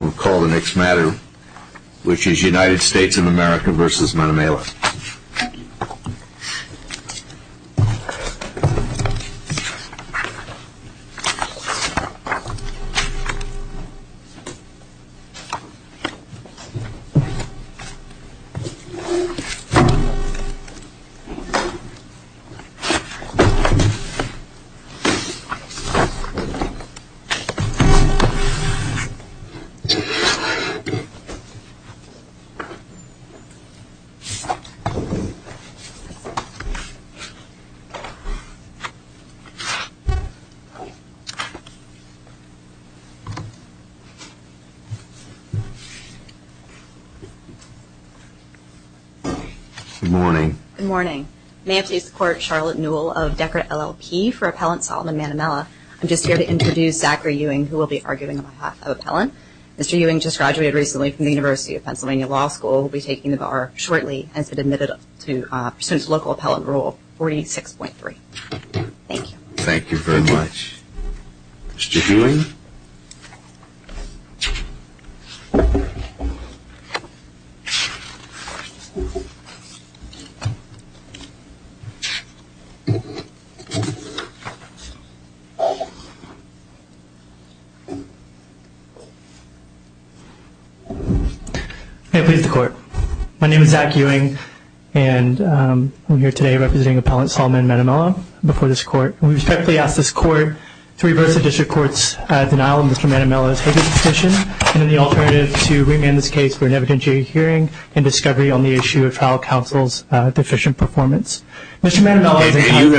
We'll call the next matter, which is United States of America versus Manamela. Good morning. Good morning. May I please court Charlotte Newell of Decorate LLP for Appellant Solomon Manamela. I'm just here to introduce Zachary Ewing, who will be arguing on behalf of Appellant. Mr. Ewing just graduated recently from the University of Pennsylvania Law School, will be taking the bar shortly, has been admitted to pursuant to local appellant rule 46.3. Thank you very much. Mr. Ewing. May I please the court. My name is Zach Ewing and I'm here today representing Appellant Solomon Manamela before this court. We respectfully ask this court to reverse the district court's denial of Mr. Manamela's habeas petition and in the alternative to remand this case for an evidentiary hearing and discovery on the issue of trial counsel's deficient performance. Mr. Manamela is entitled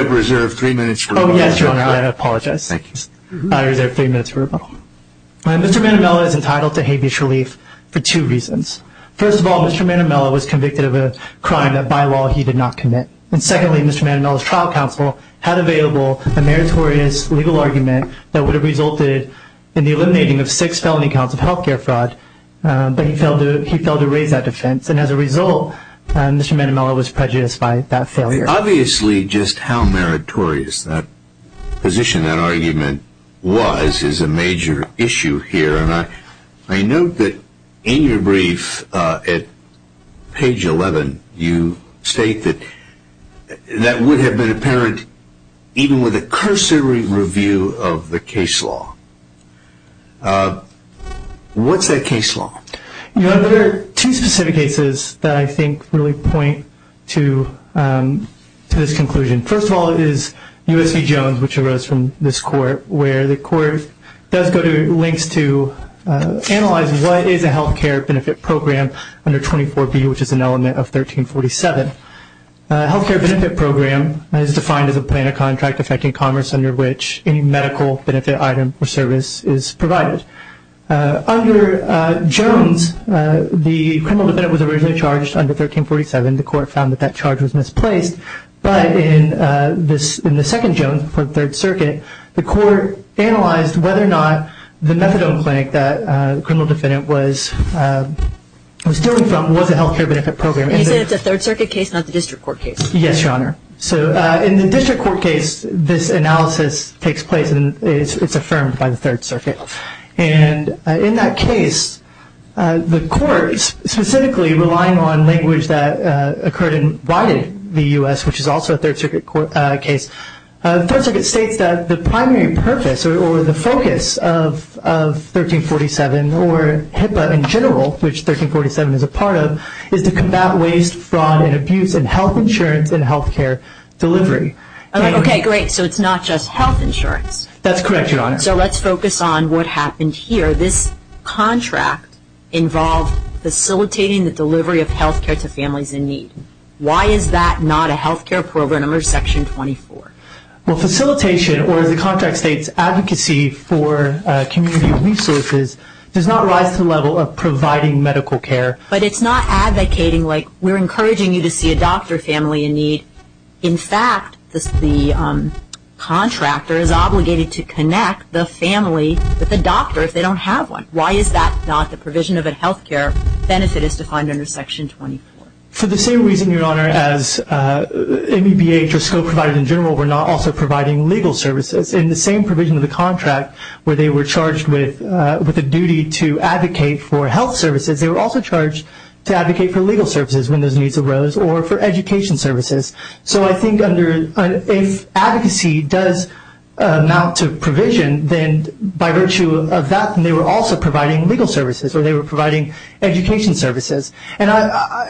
to habeas relief for two reasons. First of all, Mr. Manamela was convicted of a crime that by law he did not commit. And secondly, Mr. Manamela's trial counsel had available a meritorious legal argument that would have resulted in the eliminating of six felony counts of health care fraud, but he failed to raise that defense. And as a result, Mr. Manamela was prejudiced by that failure. Obviously just how meritorious that position, that argument was, is a major issue here. I note that in your brief at page 11, you state that that would have been apparent even with a cursory review of the case law. What's that case law? There are two specific cases that I think really point to this conclusion. First of all is U.S. v. Jones, which arose from this court, where the court does go to links to analyze what is a health care benefit program under 24B, which is an element of 1347. A health care benefit program is defined as a plan of contract affecting commerce under which any medical benefit item or service is provided. Under Jones, the criminal defendant was originally charged under 1347. The court found that that charge was misplaced, but in the second Jones for the Third Circuit, the court analyzed whether or not the methadone clinic that the criminal defendant was dealing from was a health care benefit program. You said it's a Third Circuit case, not the District Court case. Yes, Your Honor. In the District Court case, this analysis takes place and it's affirmed by the Third Circuit. In that case, the court, specifically relying on language that occurred and widened the U.S., which is also a Third Circuit case, Third Circuit states that the primary purpose or the focus of 1347 or HIPAA in general, which 1347 is a part of, is to combat waste, fraud, and abuse in health insurance and health care delivery. Okay, great. So it's not just health insurance. That's correct, Your Honor. So let's focus on what happened here. This contract involved facilitating the delivery of health care to families in need. Why is that not a health care program under Section 24? Well, facilitation, or as the contract states, advocacy for community resources does not rise to the level of providing medical care. But it's not advocating like we're encouraging you to see a doctor or family in need. In fact, the contractor is obligated to connect the family with the doctor if they don't have one. Why is that not the provision of a health care benefit as defined under Section 24? For the same reason, Your Honor, as MEBH or SCO provided in general, we're not also providing legal services. In the same provision of the contract where they were charged with a duty to advocate for health services, they were also charged to advocate for legal services when those needs arose or for education services. So I think if advocacy does amount to provision, then by virtue of that, they were also providing legal services or they were providing education services. And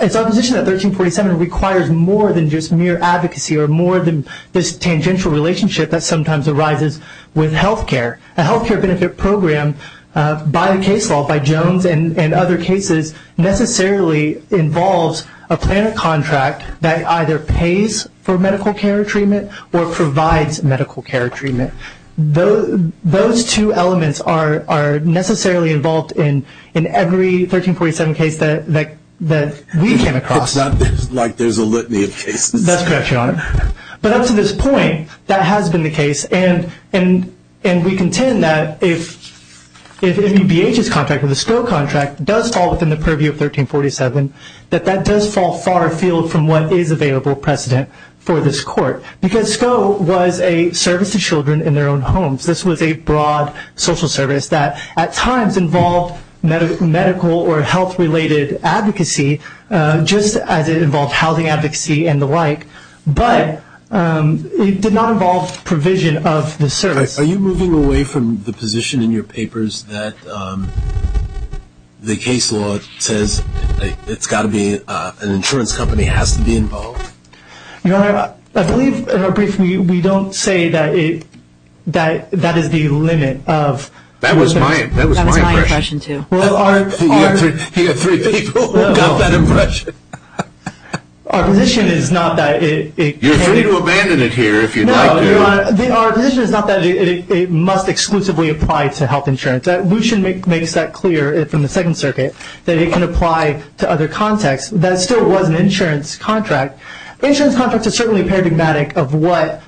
it's our position that 1347 requires more than just mere advocacy or more than this tangential relationship that sometimes arises with health care. A health care benefit program by the case law, by Jones and other cases, necessarily involves a plan of contract that either pays for medical care treatment or provides medical care treatment. Those two elements are necessarily involved in every 1347 case that we came across. It's not like there's a litany of cases. That's correct, Your Honor. But up to this point, that has been the case. And we contend that if MEBH's contract or the SCO contract does fall within the purview of 1347, that that does fall far afield from what is available precedent for this court. Because SCO was a service to children in their own homes. This was a broad social service that at times involved medical or health-related advocacy, just as it involved housing advocacy and the like. But it did not involve provision of the service. Are you moving away from the position in your papers that the case law says it's got to be an insurance company has to be involved? Your Honor, I believe in our brief we don't say that that is the limit of... That was my impression, too. You have three people who got that impression. Our position is not that it... You're free to abandon it here if you'd like to. No, Your Honor, our position is not that it must exclusively apply to health insurance. Lucien makes that clear from the Second Circuit, that it can apply to other contexts. That still was an insurance contract. Insurance contracts are certainly paradigmatic of what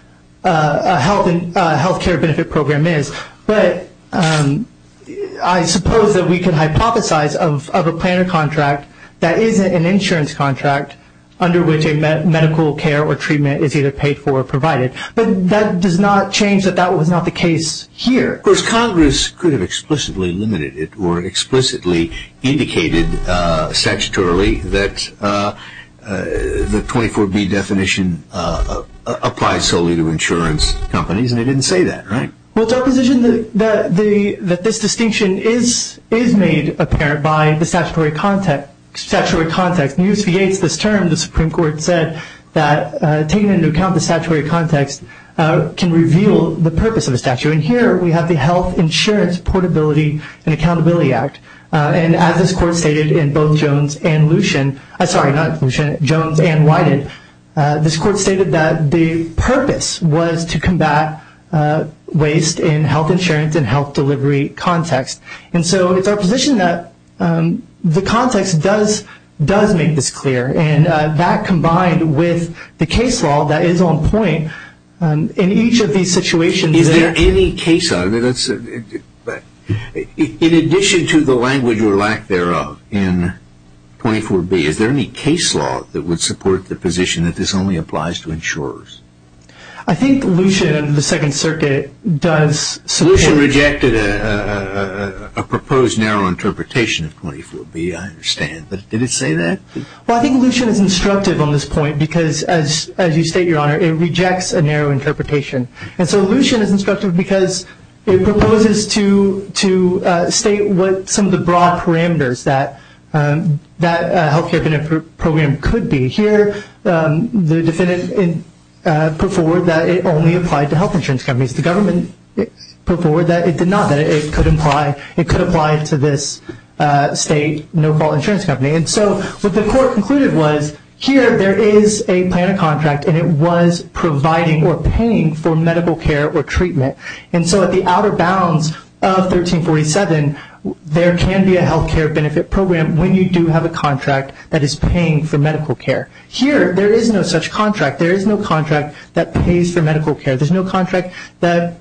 a health care benefit program is. But I suppose that we can hypothesize of a planner contract that isn't an insurance contract under which a medical care or treatment is either paid for or provided. But that does not change that that was not the case here. Of course, Congress could have explicitly limited it or explicitly indicated statutorily that the 24B definition applies solely to insurance companies, and it didn't say that, right? Well, it's our position that this distinction is made apparent by the statutory context. In the U.S. v. Yates, this term, the Supreme Court said that taking into account the statutory context can reveal the purpose of the statute. And here we have the Health Insurance Portability and Accountability Act. And as this Court stated in both Jones and Lucien... Sorry, not Lucien, Jones and Wyden, this Court stated that the purpose was to combat waste in health insurance and health delivery context. And so it's our position that the context does make this clear. And that combined with the case law that is on point in each of these situations... Is there any case law? In addition to the language or lack thereof in 24B, is there any case law that would support the position that this only applies to insurers? I think Lucien and the Second Circuit does support... Lucien rejected a proposed narrow interpretation of 24B, I understand. Did it say that? Well, I think Lucien is instructive on this point because, as you state, Your Honor, it rejects a narrow interpretation. And so Lucien is instructive because it proposes to state what some of the broad parameters that a health care benefit program could be. Here, the defendant put forward that it only applied to health insurance companies. The government put forward that it did not, that it could apply to this state no-fault insurance company. And so what the Court concluded was here there is a plan of contract and it was providing or paying for medical care or treatment. And so at the outer bounds of 1347, there can be a health care benefit program when you do have a contract that is paying for medical care. Here, there is no such contract. There is no contract that pays for medical care. There is no contract that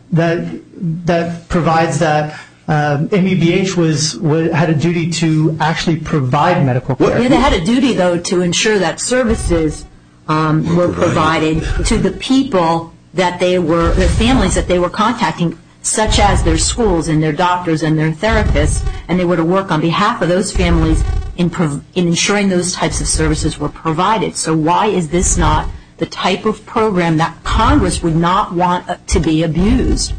provides that MEBH had a duty to actually provide medical care. They had a duty, though, to ensure that services were provided to the people that they were, the families that they were contacting, such as their schools and their doctors and their therapists, and they were to work on behalf of those families in ensuring those types of services were provided. So why is this not the type of program that Congress would not want to be abused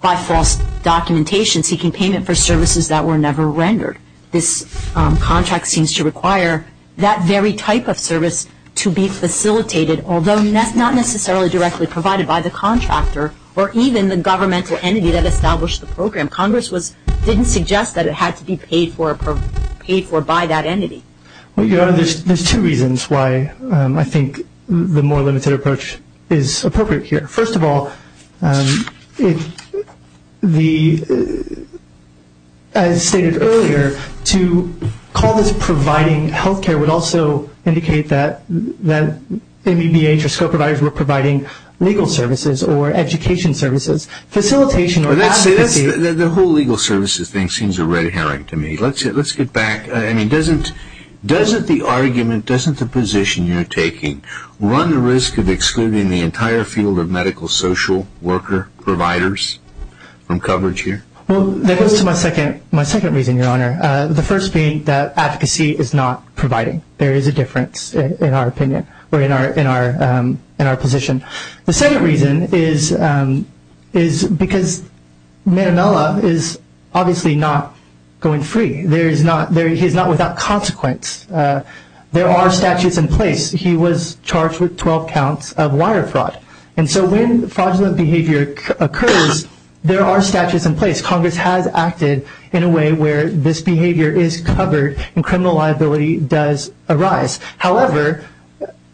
by false documentation seeking payment for services that were never rendered? This contract seems to require that very type of service to be facilitated, although not necessarily directly provided by the contractor or even the governmental entity that established the program. Congress didn't suggest that it had to be paid for by that entity. There are two reasons why I think the more limited approach is appropriate here. First of all, as stated earlier, to call this providing health care would also indicate that MEBH or school providers were providing legal services or education services, facilitation or advocacy. The whole legal services thing seems a red herring to me. Let's get back. I mean, doesn't the argument, doesn't the position you're taking run the risk of excluding the entire field of medical, social, worker, providers from coverage here? Well, that goes to my second reason, Your Honor, the first being that advocacy is not providing. There is a difference in our opinion or in our position. The second reason is because Manamela is obviously not going free. He is not without consequence. There are statutes in place. He was charged with 12 counts of wire fraud. And so when fraudulent behavior occurs, there are statutes in place. Congress has acted in a way where this behavior is covered and criminal liability does arise. However,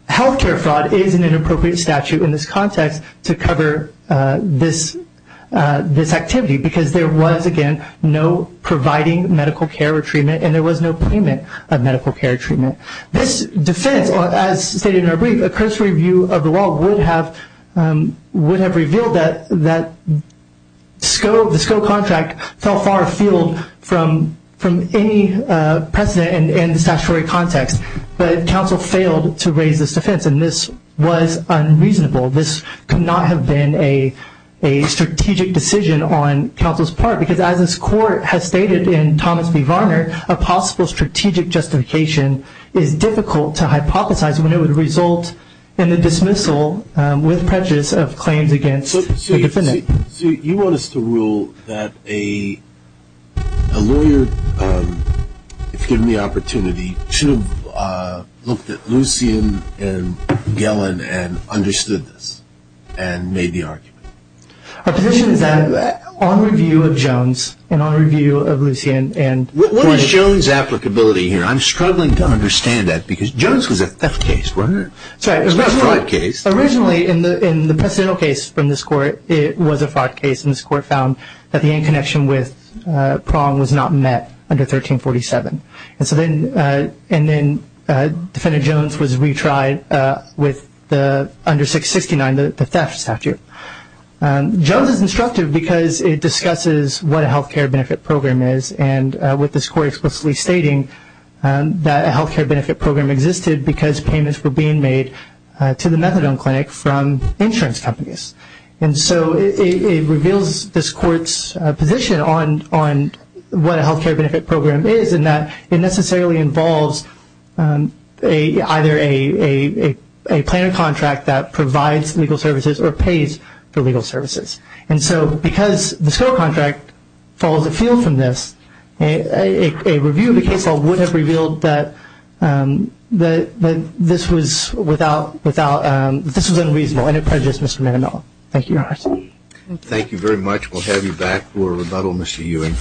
health care fraud is an inappropriate statute in this context to cover this activity because there was, again, no providing medical care or treatment, and there was no payment of medical care or treatment. This defense, as stated in our brief, a cursory view of the law would have revealed that the SCO contract fell far afield from any precedent in the statutory context. But counsel failed to raise this defense, and this was unreasonable. This could not have been a strategic decision on counsel's part because, as this court has stated in Thomas v. Varner, a possible strategic justification is difficult to hypothesize when it would result in the dismissal with prejudice of claims against the defendant. So you want us to rule that a lawyer, if given the opportunity, should have looked at Lucien and Gellin and understood this and made the argument? Our position is that, on review of Jones and on review of Lucien and Gellin… What is Jones' applicability here? I'm struggling to understand that because Jones was a theft case, right? It's not a fraud case. Originally, in the precedental case from this court, it was a fraud case, and this court found that the end connection with Prong was not met under 1347. And then Defendant Jones was retried under 669, the theft statute. Jones is instructive because it discusses what a health care benefit program is, and with this court explicitly stating that a health care benefit program existed because payments were being made to the methadone clinic from insurance companies. And so it reveals this court's position on what a health care benefit program is in that it necessarily involves either a plan of contract that provides legal services or pays for legal services. And so because the SCO contract falls afield from this, a review of the case law would have revealed that this was unreasonable Thank you, Your Honor. Thank you very much. We'll have you back for rebuttal, Mr. Ewing.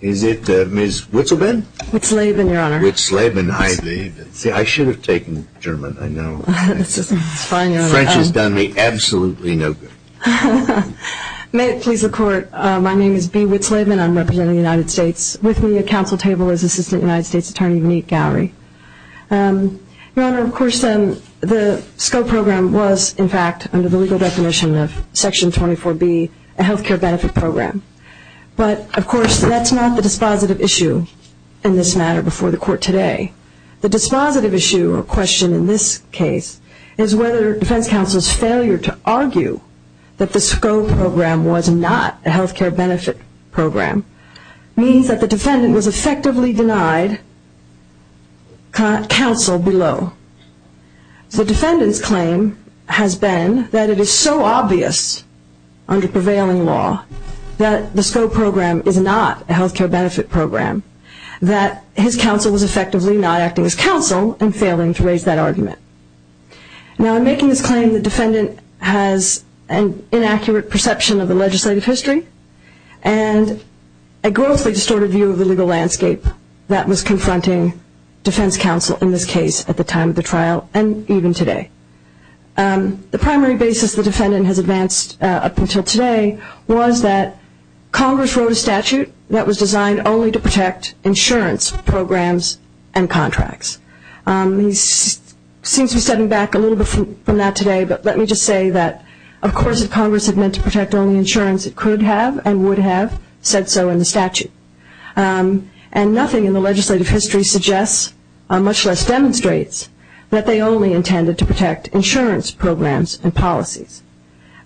Is it Ms. Witzleben? Witzleben, Your Honor. Witzleben. I should have taken German. I know. It's fine, Your Honor. French has done me absolutely no good. May it please the Court. My name is Bea Witzleben. I'm representing the United States. With me at counsel table is Assistant United States Attorney Monique Gowrie. Your Honor, of course, the SCO program was, in fact, under the legal definition of Section 24B, a health care benefit program. But, of course, that's not the dispositive issue in this matter before the Court today. The dispositive issue or question in this case is whether defense counsel's failure to argue that the SCO program was not a health care benefit program means that the defendant was effectively denied counsel below. The defendant's claim has been that it is so obvious under prevailing law that the SCO program is not a health care benefit program, that his counsel was effectively not acting as counsel and failing to raise that argument. Now, in making this claim, the defendant has an inaccurate perception of the legislative history and a grossly distorted view of the legal landscape that was confronting defense counsel in this case at the time of the trial and even today. The primary basis the defendant has advanced up until today was that Congress wrote a statute that was designed only to protect insurance programs and contracts. He seems to be stepping back a little bit from that today, but let me just say that, of course, if Congress had meant to protect only insurance, it could have and would have said so in the statute. And nothing in the legislative history suggests, much less demonstrates, that they only intended to protect insurance programs and policies.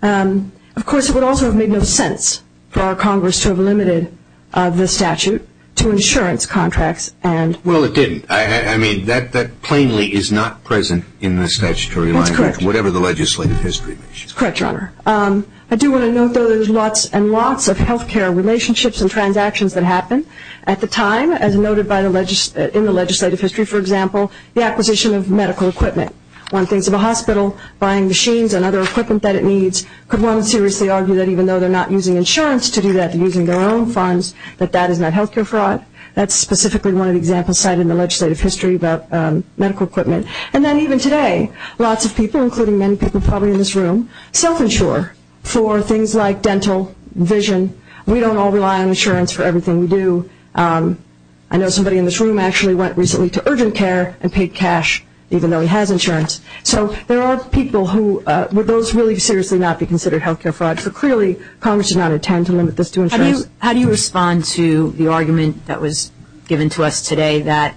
Of course, it would also have made no sense for our Congress to have limited the statute to insurance contracts. Well, it didn't. I mean, that plainly is not present in the statutory language, whatever the legislative history is. That's correct, Your Honor. I do want to note, though, there's lots and lots of health care relationships and transactions that happen. At the time, as noted in the legislative history, for example, the acquisition of medical equipment. One thinks of a hospital buying machines and other equipment that it needs. Could one seriously argue that even though they're not using insurance to do that, they're using their own funds, that that is not health care fraud? That's specifically one of the examples cited in the legislative history about medical equipment. And then even today, lots of people, including many people probably in this room, self-insure for things like dental, vision. We don't all rely on insurance for everything we do. I know somebody in this room actually went recently to urgent care and paid cash, even though he has insurance. So there are people who, would those really seriously not be considered health care fraud? So clearly Congress did not intend to limit this to insurance. How do you respond to the argument that was given to us today that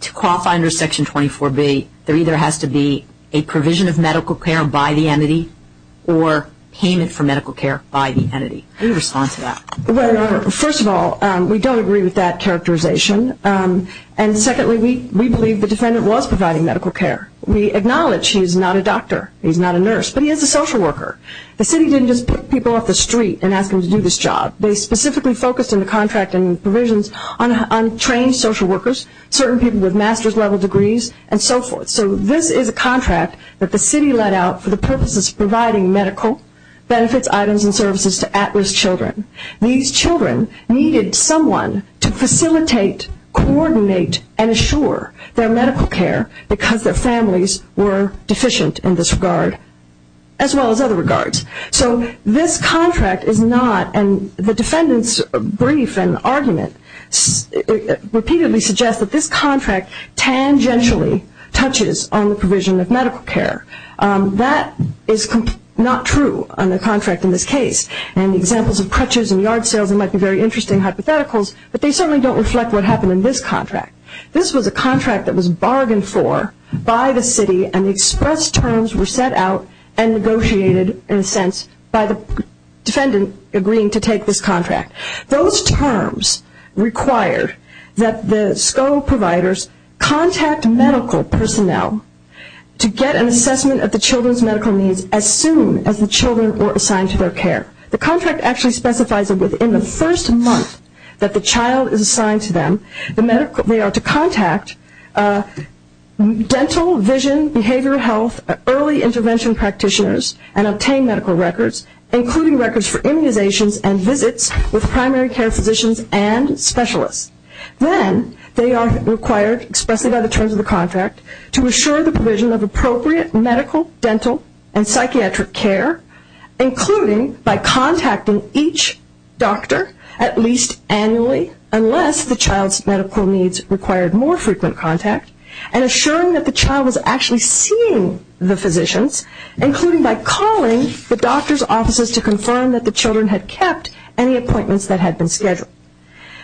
to qualify under Section 24B, there either has to be a provision of medical care by the entity or payment for medical care by the entity? How do you respond to that? Well, Your Honor, first of all, we don't agree with that characterization. And secondly, we believe the defendant was providing medical care. We acknowledge he's not a doctor, he's not a nurse, but he is a social worker. The city didn't just put people off the street and ask them to do this job. They specifically focused on the contract and provisions on trained social workers, certain people with master's level degrees, and so forth. So this is a contract that the city let out for the purposes of providing medical benefits, items, and services to at-risk children. These children needed someone to facilitate, coordinate, and assure their medical care because their families were deficient in this regard, as well as other regards. So this contract is not, and the defendant's brief and argument repeatedly suggest, that this contract tangentially touches on the provision of medical care. That is not true on the contract in this case. And the examples of crutches and yard sales might be very interesting hypotheticals, but they certainly don't reflect what happened in this contract. This was a contract that was bargained for by the city, and express terms were set out and negotiated, in a sense, by the defendant agreeing to take this contract. Those terms required that the SCO providers contact medical personnel to get an assessment of the children's medical needs as soon as the children were assigned to their care. The contract actually specifies that within the first month that the child is assigned to them, they are to contact dental, vision, behavioral health, early intervention practitioners, and obtain medical records, including records for immunizations and visits with primary care physicians and specialists. Then they are required, expressly by the terms of the contract, to assure the provision of appropriate medical, dental, and psychiatric care, including by contacting each doctor at least annually, unless the child's medical needs required more frequent contact, and assuring that the child was actually seeing the physicians, including by calling the doctor's offices to confirm that the children had kept any appointments that had been scheduled.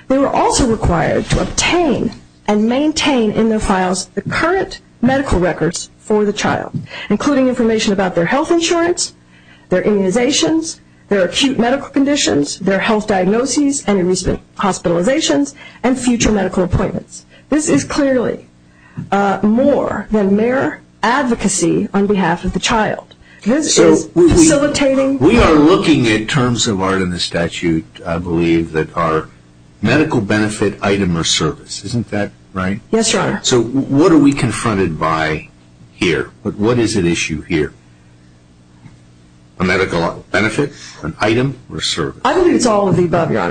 They were also required to obtain and maintain in their files the current medical records for the child, including information about their health insurance, their immunizations, their acute medical conditions, their health diagnoses and hospitalizations, and future medical appointments. This is clearly more than mere advocacy on behalf of the child. This is facilitating... We are looking at terms of art in the statute, I believe, that are medical benefit, item, or service. Isn't that right? Yes, Your Honor. So what are we confronted by here? What is at issue here? A medical benefit, an item, or service? I believe it's all of the above, Your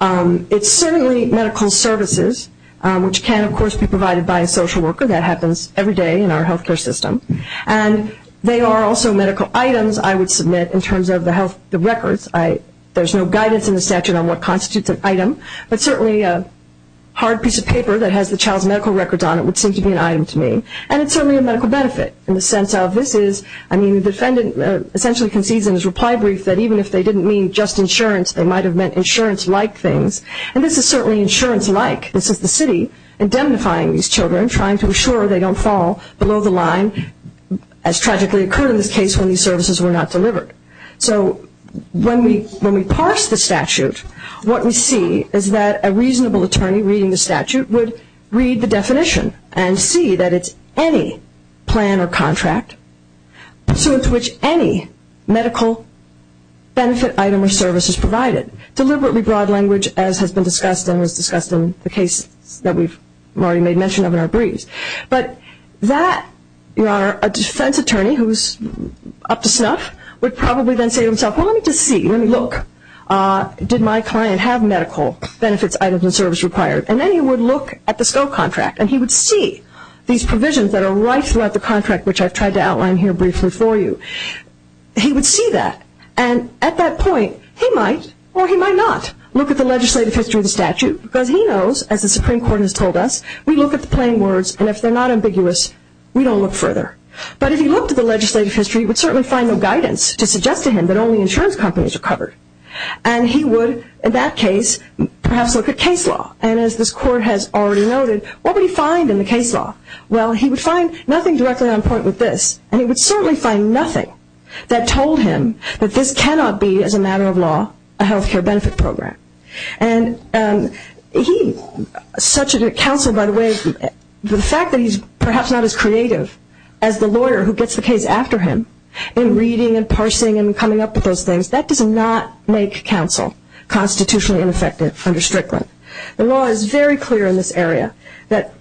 Honor. It's certainly medical services, which can, of course, be provided by a social worker. That happens every day in our health care system. And they are also medical items I would submit in terms of the health records. There's no guidance in the statute on what constitutes an item, but certainly a hard piece of paper that has the child's medical records on it would seem to be an item to me. And it's certainly a medical benefit in the sense of this is, I mean, the defendant essentially concedes in his reply brief that even if they didn't mean just insurance, they might have meant insurance-like things. And this is certainly insurance-like. This is the city indemnifying these children, trying to ensure they don't fall below the line, as tragically occurred in this case when these services were not delivered. So when we parse the statute, what we see is that a reasonable attorney reading the statute would read the definition and see that it's any plan or contract to which any medical benefit, item, or service is provided. Deliberately broad language, as has been discussed and was discussed in the case that we've already made mention of in our briefs. But a defense attorney who's up to snuff would probably then say to himself, well, let me just see, let me look. Did my client have medical benefits, items, and service required? And then he would look at the scope contract and he would see these provisions that are right throughout the contract, which I've tried to outline here briefly for you. He would see that. And at that point, he might or he might not look at the legislative history of the statute because he knows, as the Supreme Court has told us, we look at the plain words, and if they're not ambiguous, we don't look further. But if he looked at the legislative history, he would certainly find no guidance to suggest to him that only insurance companies are covered. And he would, in that case, perhaps look at case law. And as this Court has already noted, what would he find in the case law? Well, he would find nothing directly on point with this. And he would certainly find nothing that told him that this cannot be, as a matter of law, a health care benefit program. And such a counsel, by the way, the fact that he's perhaps not as creative as the lawyer who gets the case after him in reading and parsing and coming up with those things, that does not make counsel constitutionally ineffective under Strickland. The law is very clear in this area that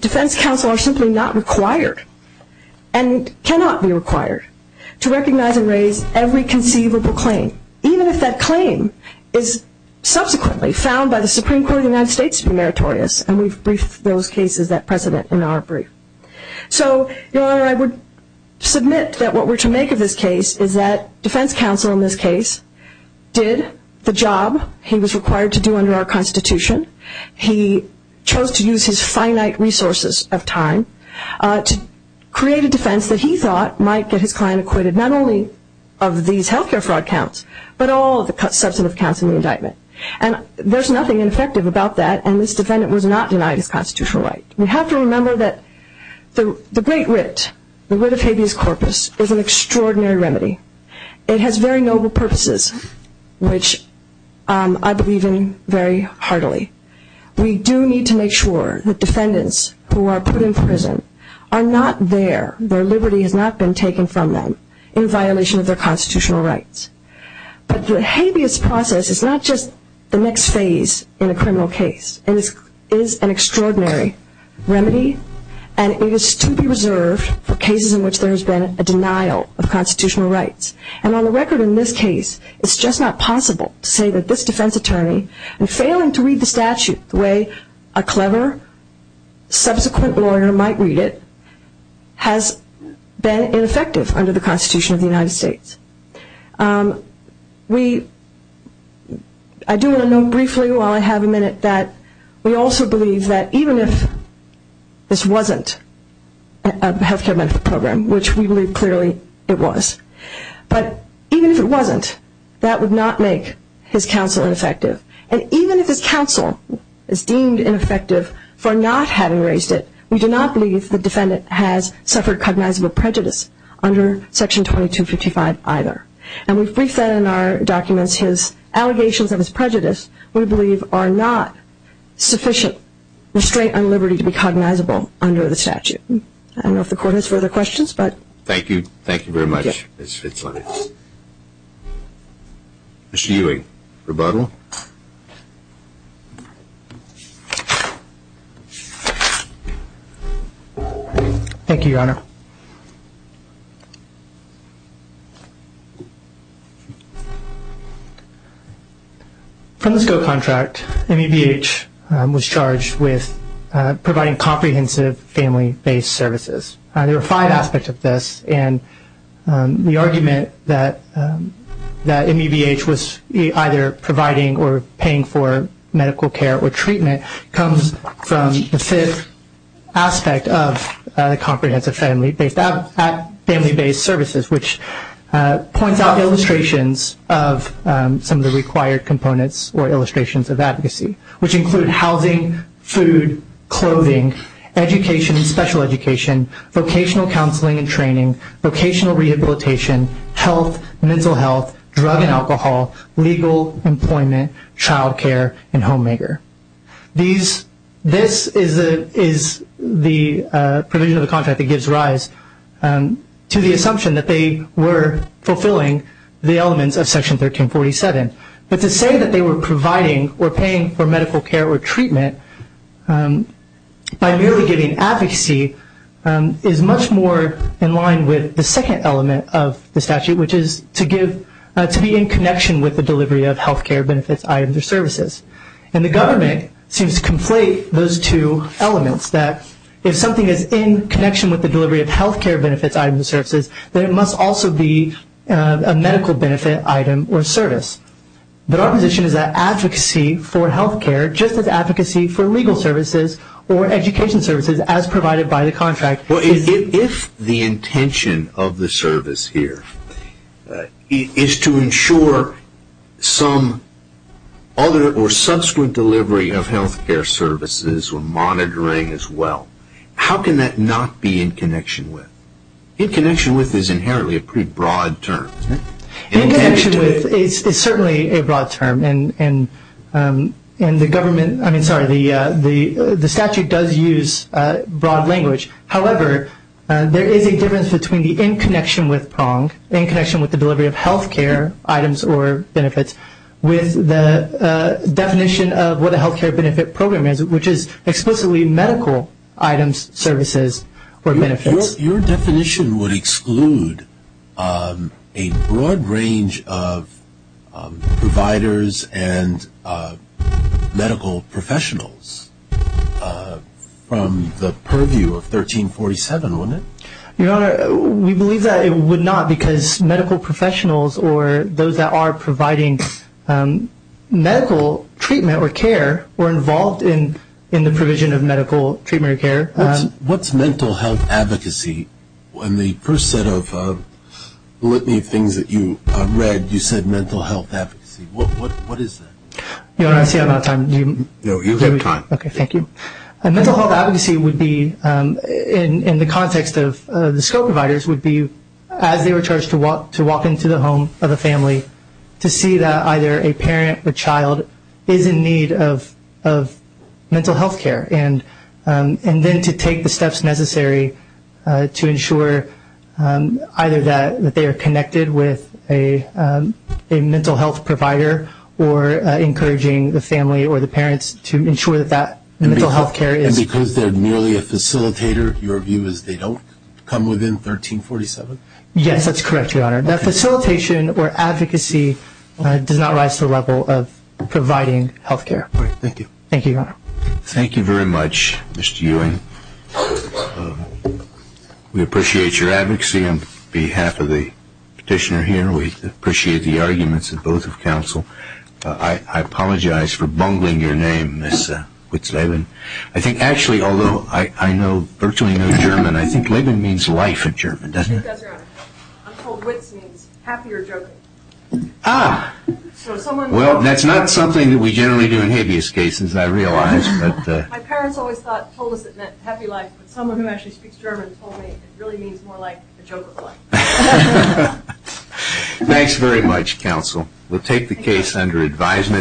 defense counsel are simply not required and cannot be required to recognize and raise every conceivable claim, even if that claim is subsequently found by the Supreme Court of the United States to be meritorious. And we've briefed those cases, that precedent, in our brief. So, Your Honor, I would submit that what we're to make of this case is that defense counsel in this case did the job he was required to do under our Constitution. He chose to use his finite resources of time to create a defense that he thought might get his client acquitted, not only of these health care fraud counts, but all of the substantive counts in the indictment. And there's nothing ineffective about that, and this defendant was not denied his constitutional right. We have to remember that the great writ, the writ of habeas corpus, is an extraordinary remedy. It has very noble purposes, which I believe in very heartily. We do need to make sure that defendants who are put in prison are not there, that their liberty has not been taken from them in violation of their constitutional rights. But the habeas process is not just the next phase in a criminal case. It is an extraordinary remedy, and it is to be reserved for cases in which there has been a denial of constitutional rights. And on the record in this case, it's just not possible to say that this defense attorney, in failing to read the statute the way a clever subsequent lawyer might read it, has been ineffective under the Constitution of the United States. I do want to note briefly while I have a minute that we also believe that even if this wasn't a health care benefit program, which we believe clearly it was, but even if it wasn't, that would not make his counsel ineffective. And even if his counsel is deemed ineffective for not having raised it, we do not believe the defendant has suffered cognizable prejudice under Section 2255 either. And we've briefed that in our documents, his allegations of his prejudice, we believe are not sufficient restraint on liberty to be cognizable under the statute. I don't know if the court has further questions, but. Thank you. Thank you very much, Ms. Fitzsimmons. Mr. Ewing, rebuttal. Thank you, Your Honor. From the SCO contract, MEBH was charged with providing comprehensive family-based services. There are five aspects of this, and the argument that MEBH was either providing or paying for medical care or treatment comes from the fifth aspect of the comprehensive family-based services, which points out illustrations of some of the required components or illustrations of advocacy, which include housing, food, clothing, education and special education, vocational counseling and training, vocational rehabilitation, health, mental health, drug and alcohol, legal employment, child care, and homemaker. This is the provision of the contract that gives rise to the assumption that they were fulfilling the elements of Section 1347. But to say that they were providing or paying for medical care or treatment by merely giving advocacy is much more in line with the second element of the statute, which is to be in connection with the delivery of health care benefits, items or services. And the government seems to conflate those two elements, that if something is in connection with the delivery of health care benefits, items or services, then it must also be a medical benefit, item or service. But our position is that advocacy for health care, just as advocacy for legal services or education services as provided by the contract. If the intention of the service here is to ensure some other or subsequent delivery of health care services or monitoring as well, how can that not be in connection with? In connection with is inherently a pretty broad term. In connection with is certainly a broad term. And the government, I mean, sorry, the statute does use broad language. However, there is a difference between the in connection with prong, in connection with the delivery of health care items or benefits, with the definition of what a health care benefit program is, which is explicitly medical items, services or benefits. Your definition would exclude a broad range of providers and medical professionals from the purview of 1347, wouldn't it? Your Honor, we believe that it would not because medical professionals or those that are providing medical treatment or care were involved in the provision of medical treatment or care. What's mental health advocacy? In the first set of litany of things that you read, you said mental health advocacy. What is that? Your Honor, I see I'm out of time. No, you have time. Okay, thank you. Mental health advocacy would be, in the context of the SCO providers, would be as they were charged to walk into the home of the family to see that either a parent or child is in need of mental health care and then to take the steps necessary to ensure either that they are connected with a mental health provider or encouraging the family or the parents to ensure that that mental health care is. And because they're merely a facilitator, your view is they don't come within 1347? Yes, that's correct, Your Honor. That facilitation or advocacy does not rise to the level of providing health care. Thank you. Thank you, Your Honor. Thank you very much, Mr. Ewing. We appreciate your advocacy on behalf of the petitioner here. We appreciate the arguments of both of counsel. I apologize for bungling your name, Ms. Witzleben. I think actually, although I know virtually no German, I think leben means life in German, doesn't it? That's right. I'm told witz means happy or joking. Ah. Well, that's not something that we generally do in habeas cases, I realize. My parents always told us it meant happy life, but someone who actually speaks German told me it really means more like a joke of life. Thanks very much, counsel. We'll take the case under advisement.